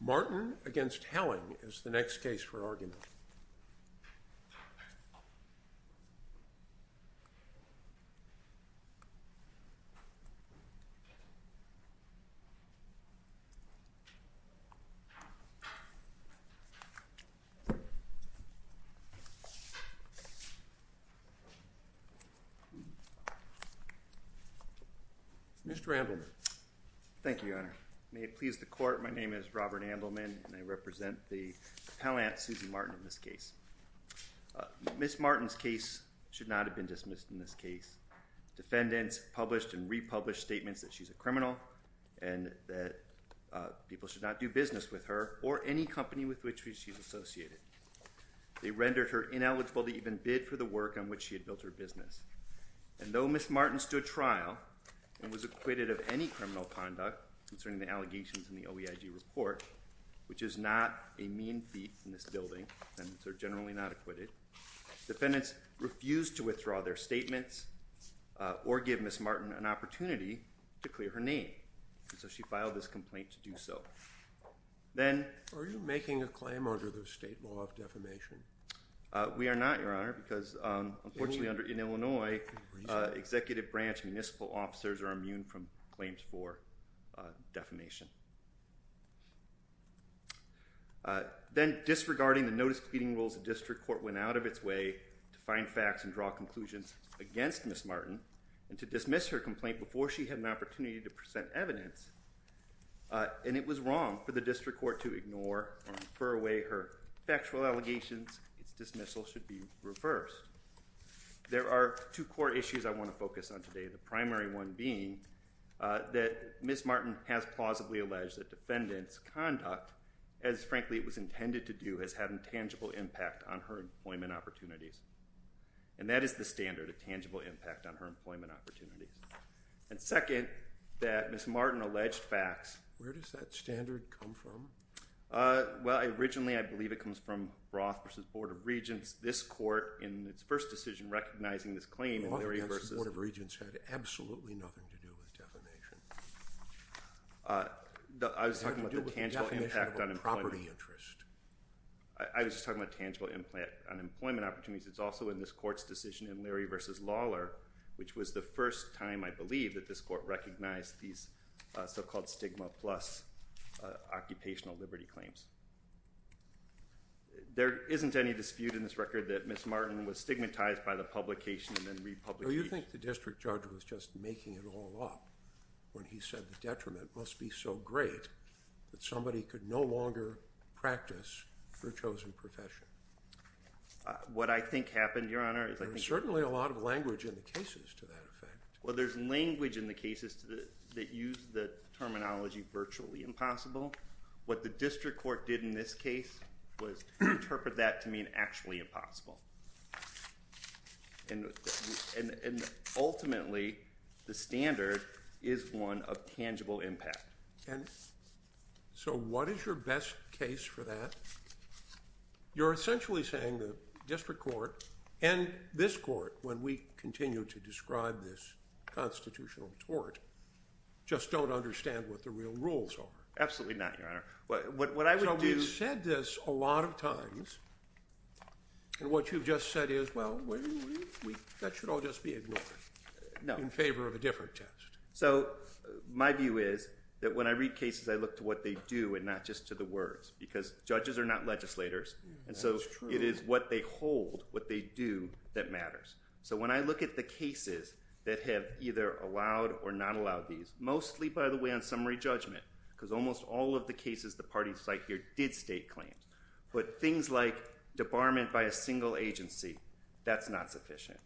Martin v. Haling is the next case for argument. Mr. Andelman. Thank you, Your Honor. May it please the Court, my name is Robert Andelman and I represent the appellant, Suzy Martin, in this case. Ms. Martin's case should not have been dismissed in this case. Defendants published and republished statements that she's a criminal and that people should not do business with her or any company with which she's associated. They rendered her ineligible to even bid for the work on which she had built her business. And though Ms. Martin stood trial and was acquitted of any criminal conduct concerning the allegations in the OEIG report, which is not a mean feat in this building, defendants are generally not acquitted, defendants refused to withdraw their statements or give Ms. Martin an opportunity to clear her name, and so she filed this complaint to do so. Then- Are you making a claim under the state law of defamation? We are not, Your Honor, because unfortunately in Illinois executive branch municipal officers are immune from claims for defamation. Then disregarding the notice pleading rules, the district court went out of its way to dismiss her complaint before she had an opportunity to present evidence, and it was wrong for the district court to ignore or infer away her factual allegations. Its dismissal should be reversed. There are two core issues I want to focus on today, the primary one being that Ms. Martin has plausibly alleged that defendants' conduct, as frankly it was intended to do, has had a tangible impact on her employment opportunities. And that is the standard, a tangible impact on her employment opportunities. And second, that Ms. Martin alleged facts- Where does that standard come from? Well, originally, I believe it comes from Roth v. Board of Regents. This court, in its first decision recognizing this claim, in the reverses- Roth v. Board of Regents had absolutely nothing to do with defamation. I was talking about the tangible impact on employment- What did it have to do with the definition of a property interest? I was just talking about tangible impact on employment opportunities. It's also in this court's decision in Leary v. Lawler, which was the first time, I believe, that this court recognized these so-called stigma plus occupational liberty claims. There isn't any dispute in this record that Ms. Martin was stigmatized by the publication and then republicated. So you think the district judge was just making it all up when he said the detriment must be so great that somebody could no longer practice their chosen profession? What I think happened, Your Honor- There's certainly a lot of language in the cases to that effect. Well, there's language in the cases that use the terminology virtually impossible. What the district court did in this case was interpret that to mean actually impossible. And ultimately, the standard is one of tangible impact. So what is your best case for that? You're essentially saying the district court and this court, when we continue to describe this constitutional tort, just don't understand what the real rules are. Absolutely not, Your Honor. What I would do- So we've said this a lot of times, and what you've just said is, well, that should all just be ignored in favor of a different test. So my view is that when I read cases, I look to what they do and not just to the words, because judges are not legislators, and so it is what they hold, what they do, that matters. So when I look at the cases that have either allowed or not allowed these, mostly, by the way, on summary judgment, because almost all of the cases the parties cite here did state claims, but things like debarment by a single agency, that's not sufficient,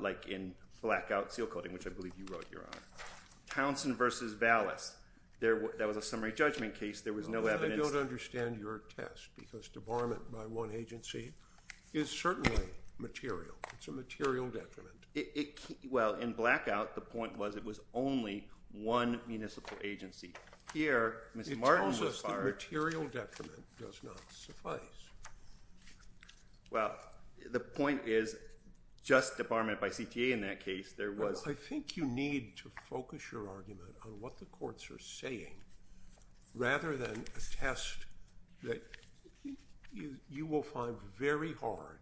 like in Blackout Seal Coating, which I believe you wrote, Your Honor. Townsend v. Vallis, that was a summary judgment case. There was no evidence- I don't understand your test, because debarment by one agency is certainly material. It's a material detriment. Well, in Blackout, the point was it was only one municipal agency. Here, Ms. Martin was fired- It tells us that material detriment does not suffice. Well, the point is just debarment by CTA in that case, there was- Well, I think you need to focus your argument on what the courts are saying rather than a test that you will find very hard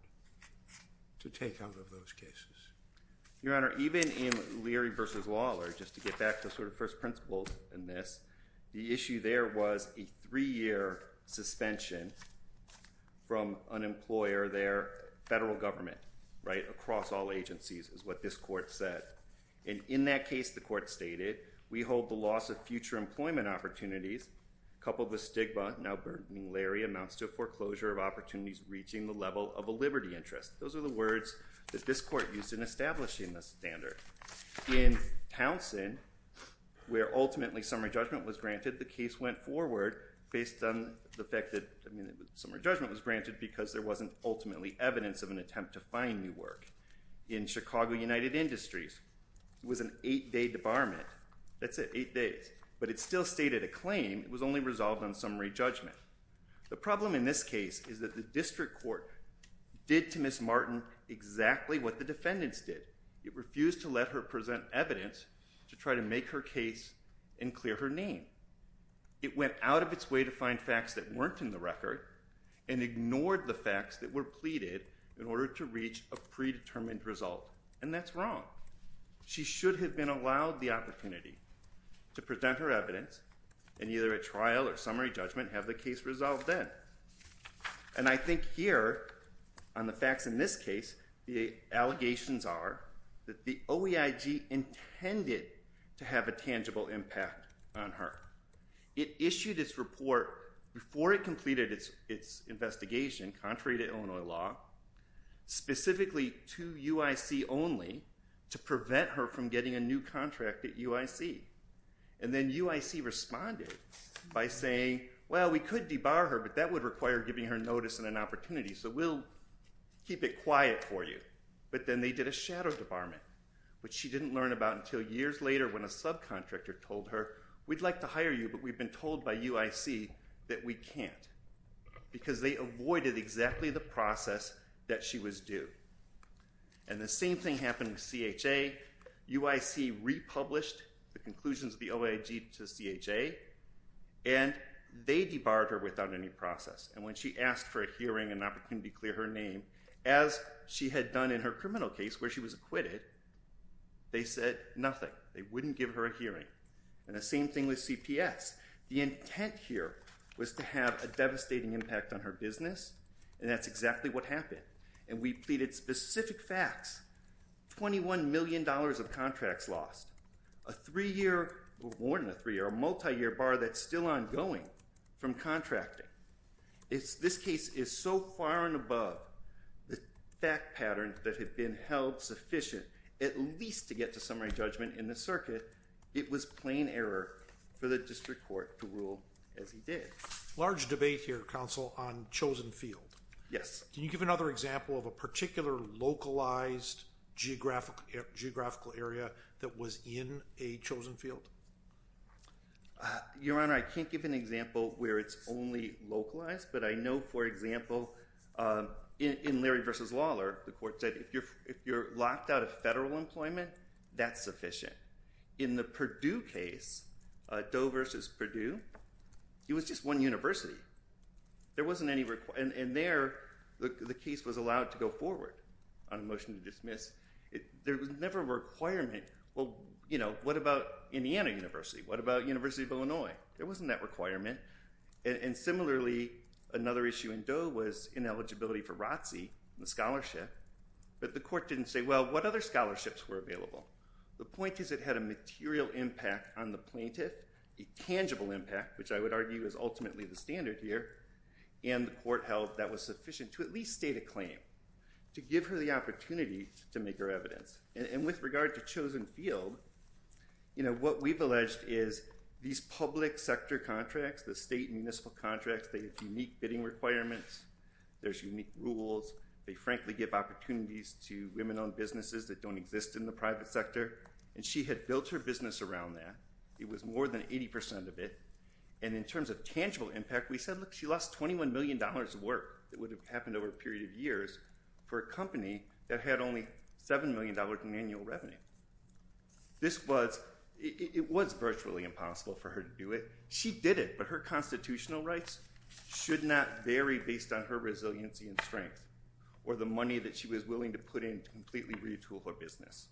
to take out of those cases. Your Honor, even in Leary v. Lawler, just to get back to sort of first principles in this, the issue there was a three-year suspension from an employer, their federal government, right, across all agencies is what this court said. And in that case, the court stated, we hold the loss of future employment opportunities, coupled with stigma, now burdening Leary, amounts to a foreclosure of opportunities reaching the level of a liberty interest. Those are the words that this court used in establishing the standard. In Townsend, where ultimately summary judgment was granted, the case went forward based on the fact that summary judgment was granted because there wasn't ultimately evidence of an attempt to find new work. In Chicago United Industries, it was an eight-day debarment. That's it, eight days. But it still stated a claim. It was only resolved on summary judgment. The problem in this case is that the district court did to Ms. Martin exactly what the defendants did. It refused to let her present evidence to try to make her case and clear her name. It went out of its way to find facts that weren't in the record and ignored the facts that were pleaded in order to reach a predetermined result. And that's wrong. She should have been allowed the opportunity to present her evidence and either at trial or summary judgment have the case resolved then. And I think here on the facts in this case, the allegations are that the OEIG intended to have a tangible impact on her. It issued its report before it completed its investigation, contrary to Illinois law, specifically to UIC only to prevent her from getting a new contract at UIC. And then UIC responded by saying, well, we could debar her, but that would require giving her notice and an opportunity, so we'll keep it quiet for you. But then they did a shadow debarment, which she didn't learn about until years later when a subcontractor told her, we'd like to hire you, but we've been told by UIC that we can't, because they avoided exactly the process that she was due. And the same thing happened with CHA. UIC republished the conclusions of the OEIG to CHA, and they debarred her without any process. And when she asked for a hearing and an opportunity to clear her name, as she had done in her criminal case where she was acquitted, they said nothing. They wouldn't give her a hearing. And the same thing with CPS. The intent here was to have a devastating impact on her business, and that's exactly what happened. And we pleaded specific facts. $21 million of contracts lost. A three-year, or more than a three-year, a multi-year bar that's still ongoing from contracting. This case is so far and above the fact patterns that have been held sufficient at least to get to summary judgment in the circuit, it was plain error for the district court to rule as he did. Large debate here, Counsel, on Chosen Field. Yes. Can you give another example of a particular localized geographical area that was in a Chosen Field? Your Honor, I can't give an example where it's only localized, but I know, for example, in Larry v. Lawler, the court said if you're locked out of federal employment, that's sufficient. In the Purdue case, Doe v. Purdue, it was just one university. And there, the case was allowed to go forward on a motion to dismiss. There was never a requirement, well, you know, what about Indiana University? What about University of Illinois? There wasn't that requirement. And similarly, another issue in Doe was ineligibility for ROTC, the scholarship, but the court didn't say, well, what other scholarships were available? The point is it had a material impact on the plaintiff, a tangible impact, which I would argue is ultimately the standard here, and the court held that was sufficient to at least state a claim, to give her the opportunity to make her evidence. And with regard to Chosen Field, you know, what we've alleged is these public sector contracts, the state and municipal contracts, they have unique bidding requirements. There's unique rules. They frankly give opportunities to women-owned businesses that don't exist in the private sector, and she had built her business around that. It was more than 80% of it. And in terms of tangible impact, we said, look, she lost $21 million of work that would have happened over a period of time for a company that had only $7 million in annual revenue. This was – it was virtually impossible for her to do it. She did it, but her constitutional rights should not vary based on her resiliency and strength or the money that she was willing to put in to completely retool her business.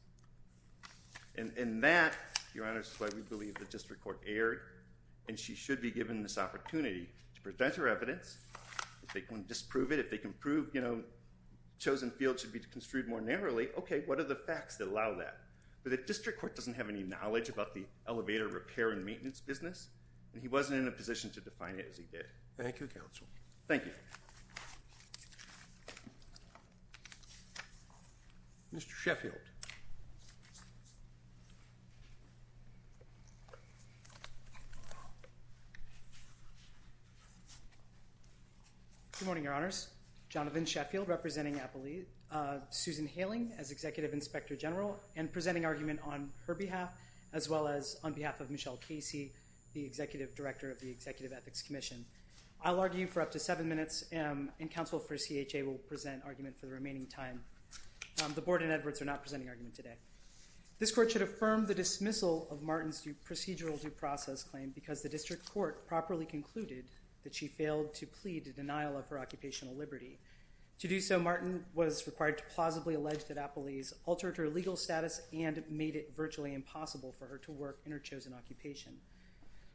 And that, Your Honor, is why we believe the district court erred, and she should be given this opportunity to present her evidence. If they can disprove it, if they can prove, you know, Chosen Field should be construed more narrowly, okay, what are the facts that allow that? But the district court doesn't have any knowledge about the elevator repair and maintenance business, and he wasn't in a position to define it as he did. Thank you, counsel. Thank you. Thank you. Mr. Sheffield. Good morning, Your Honors. Jonathan Sheffield representing Susan Hailing as Executive Inspector General and presenting argument on her behalf as well as on behalf of Michelle Casey, the Executive Director of the Executive Ethics Commission. I'll argue for up to seven minutes, and counsel for CHA will present argument for the remaining time. The board and Edwards are not presenting argument today. This court should affirm the dismissal of Martin's procedural due process claim because the district court properly concluded that she failed to plead to denial of her occupational liberty. To do so, Martin was required to plausibly allege that Appley's altered her legal status and made it virtually impossible for her to work in her chosen occupation.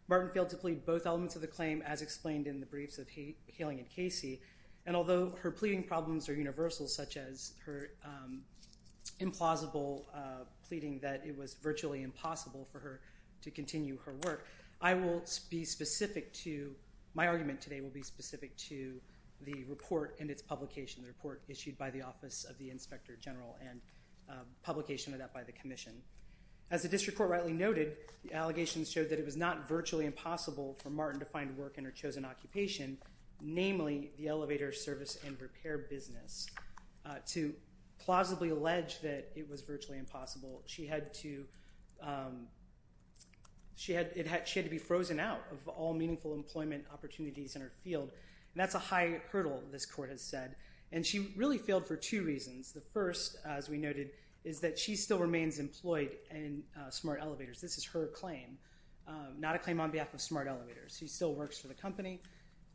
Martin failed to plead both elements of the claim as explained in the briefs of Hailing and Casey, and although her pleading problems are universal such as her implausible pleading that it was virtually impossible for her to continue her work, I will be specific to, my argument today will be specific to the report and its publication, the report issued by the Office of the Inspector General and publication of that by the commission. As the district court rightly noted, the allegations showed that it was not virtually impossible for Martin to find work in her chosen occupation, namely the elevator service and repair business. To plausibly allege that it was virtually impossible, she had to be frozen out of all meaningful employment opportunities in her field, and that's a high hurdle, this court has said, and she really failed for two reasons. The first, as we noted, is that she still remains employed in smart elevators. This is her claim, not a claim on behalf of smart elevators. She still works for the company,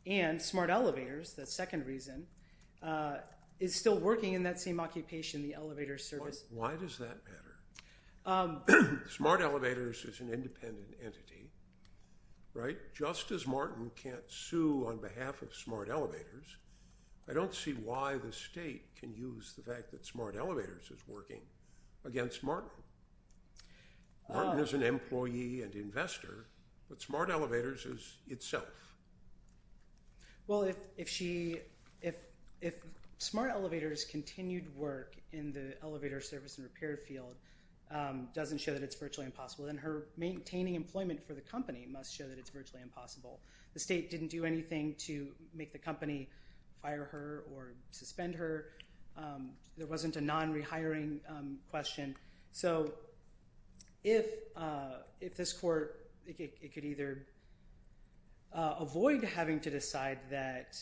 and smart elevators, the second reason, is still working in that same occupation, the elevator service. Why does that matter? Smart elevators is an independent entity, right? Just as Martin can't sue on behalf of smart elevators, I don't see why the state can use the fact that smart elevators is working against Martin. Martin is an employee and investor, but smart elevators is itself. Well, if smart elevators continued work in the elevator service and repair field doesn't show that it's virtually impossible, then her maintaining employment for the company must show that it's virtually impossible. The state didn't do anything to make the company fire her or suspend her. There wasn't a non-rehiring question, so if this court, it could either avoid having to decide that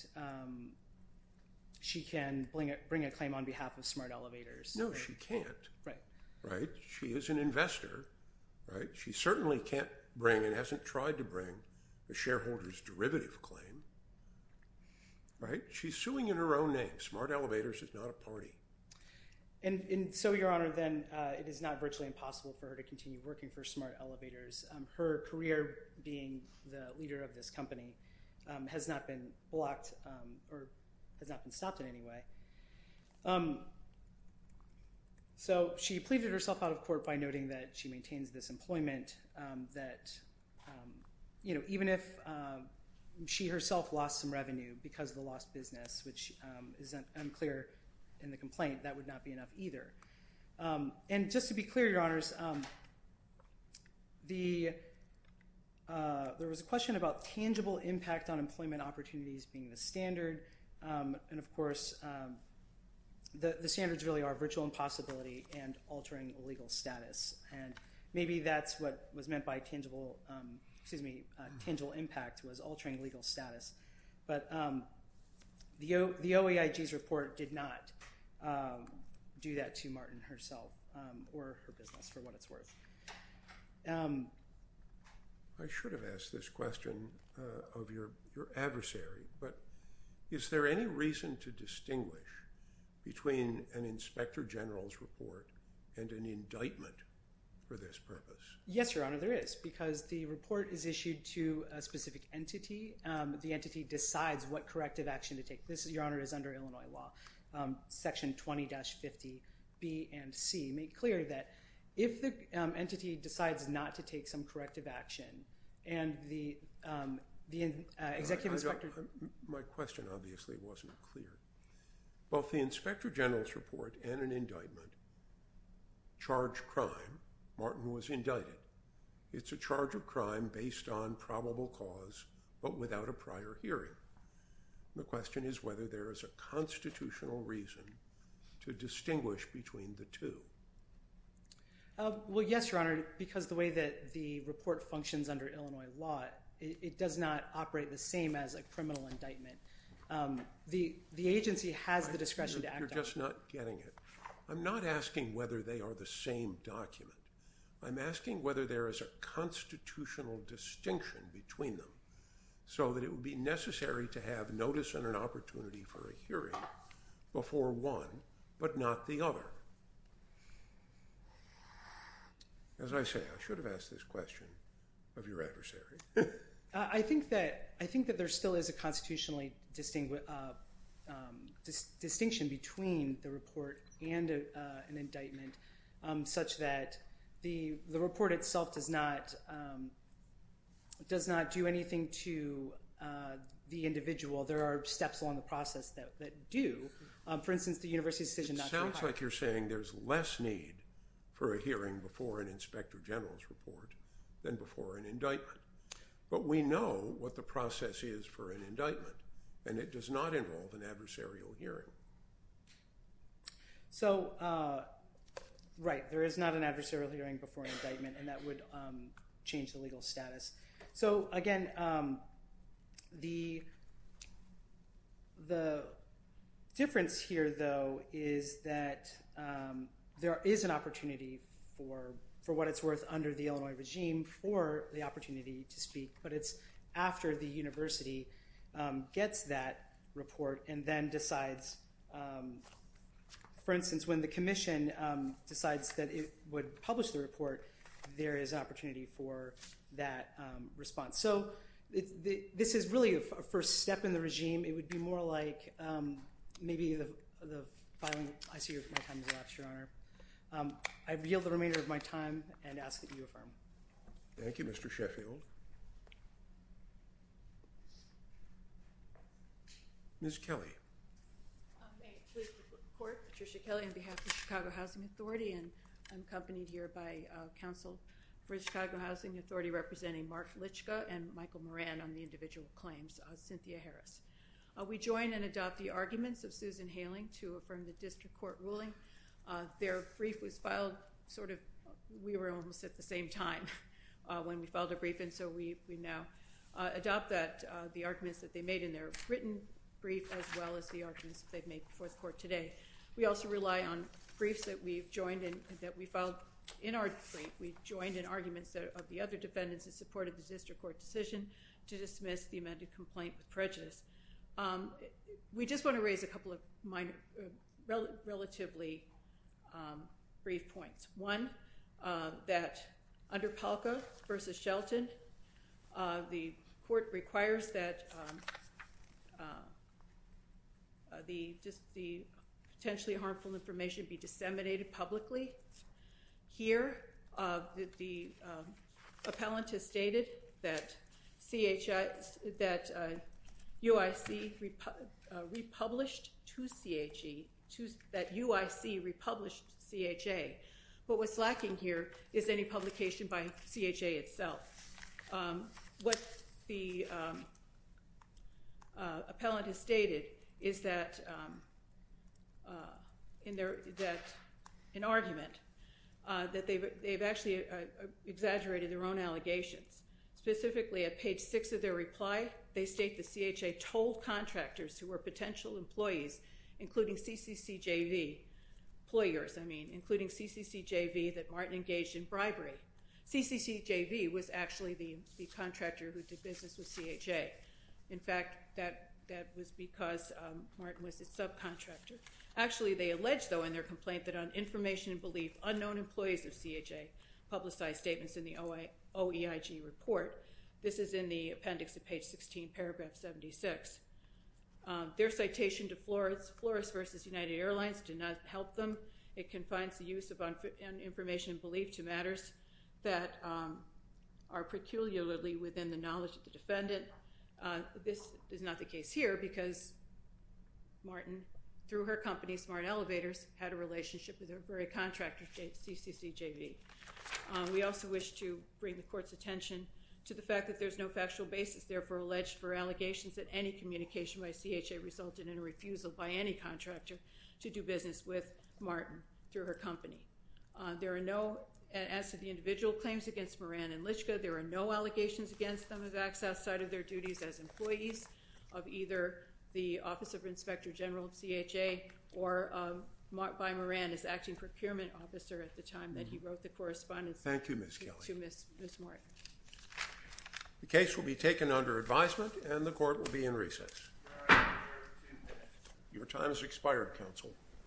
she can bring a claim on behalf of smart elevators. No, she can't, right? She is an investor, right? She certainly can't bring, and hasn't tried to bring, the shareholder's derivative claim, right? She's suing in her own name. Smart elevators is not a party. And so your honor, then it is not virtually impossible for her to continue working for smart elevators. Her career being the leader of this company has not been blocked or has not been stopped in any way. So she pleaded herself out of court by noting that she maintains this employment, that even if she herself lost some revenue because of the lost business, which is unclear in the complaint, that would not be enough either. And just to be clear, your honors, there was a question about tangible impact on employment opportunities being the standard. And of course, the standards really are virtual impossibility and altering legal status. And maybe that's what was meant by tangible, excuse me, tangible impact was altering legal status. But the OEIG's report did not do that to Martin herself or her business for what it's worth. I should have asked this question of your adversary. But is there any reason to distinguish between an inspector general's report and an indictment for this purpose? Yes, your honor. There is because the report is issued to a specific entity. The entity decides what corrective action to take. This is your honor is under Illinois law. Section 20 dash 50 B and C make clear that if the entity decides not to take some corrective action, My question obviously wasn't clear. Both the inspector general's report and an indictment charge crime. Martin was indicted. It's a charge of crime based on probable cause, but without a prior hearing. The question is whether there is a constitutional reason to distinguish between the two. Well, yes, your honor. Because the way that the report functions under Illinois law, it does not operate the same as a criminal indictment. The agency has the discretion to act. You're just not getting it. I'm not asking whether they are the same document. I'm asking whether there is a constitutional distinction between them so that it would be necessary to have notice and an opportunity for a hearing before one, but not the other. As I say, I should have asked this question of your adversary. I think that I think that there still is a constitutionally distinct distinction between the report and an indictment such that the report itself does not does not do anything to the individual. There are steps along the process that do, for instance, the university decision. Sounds like you're saying there's less need for a hearing before an inspector general's report than before an indictment. But we know what the process is for an indictment, and it does not involve an adversarial hearing. So, right. There is not an adversarial hearing before indictment, and that would change the legal status. So, again, the the difference here, though, is that there is an opportunity for for what it's worth under the Illinois regime for the opportunity to speak. But it's after the university gets that report and then decides, for instance, when the commission decides that it would publish the report, there is opportunity for that response. So this is really a first step in the regime. It would be more like maybe the. Your Honor, I feel the remainder of my time and ask that you affirm. Thank you, Mr. Sheffield. Miss Kelly. Patricia Kelly, on behalf of Chicago Housing Authority and accompanied here by counsel for Chicago Housing Authority, representing Mark Litchka and Michael Moran on the individual claims. Cynthia Harris. We join and adopt the arguments of Susan Hailing to affirm the district court ruling. Their brief was filed sort of. We were almost at the same time when we filed a brief. And so we now adopt that the arguments that they made in their written brief, as well as the arguments they've made before the court today. We also rely on briefs that we've joined in that we filed in our. We joined in arguments of the other defendants in support of the district court decision to dismiss the amended complaint with prejudice. We just want to raise a couple of minor relatively brief points. One, that under Palka versus Shelton, the court requires that. The just the potentially harmful information be disseminated publicly here. The appellant has stated that CHS that UIC republished to CHG to that UIC republished CHA. But what's lacking here is any publication by CHA itself. What the appellant has stated is that in their that an argument that they've actually exaggerated their own allegations. Specifically, at page six of their reply, they state the CHA told contractors who were potential employees, including CCCJV employers. I mean, including CCCJV that Martin engaged in bribery. CCCJV was actually the contractor who did business with CHA. In fact, that was because Martin was its subcontractor. Actually, they allege, though, in their complaint that on information and belief, unknown employees of CHA publicized statements in the OEIG report. This is in the appendix at page 16, paragraph 76. Their citation to Flores versus United Airlines did not help them. It confines the use of information and belief to matters that are peculiarly within the knowledge of the defendant. This is not the case here because Martin, through her company, Smart Elevators, had a relationship with her very contractor, CCCJV. We also wish to bring the court's attention to the fact that there's no factual basis, therefore, alleged for allegations that any communication by CHA resulted in a refusal by any contractor to do business with Martin through her company. There are no, as to the individual claims against Moran and Lychka, there are no allegations against them of acts outside of their duties as employees of either the Office of Inspector General of CHA or by Moran as Acting Procurement Officer at the time that he wrote the correspondence to Ms. Martin. Thank you, Ms. Kelly. The case will be taken under advisement and the court will be in recess. Your time has expired, counsel.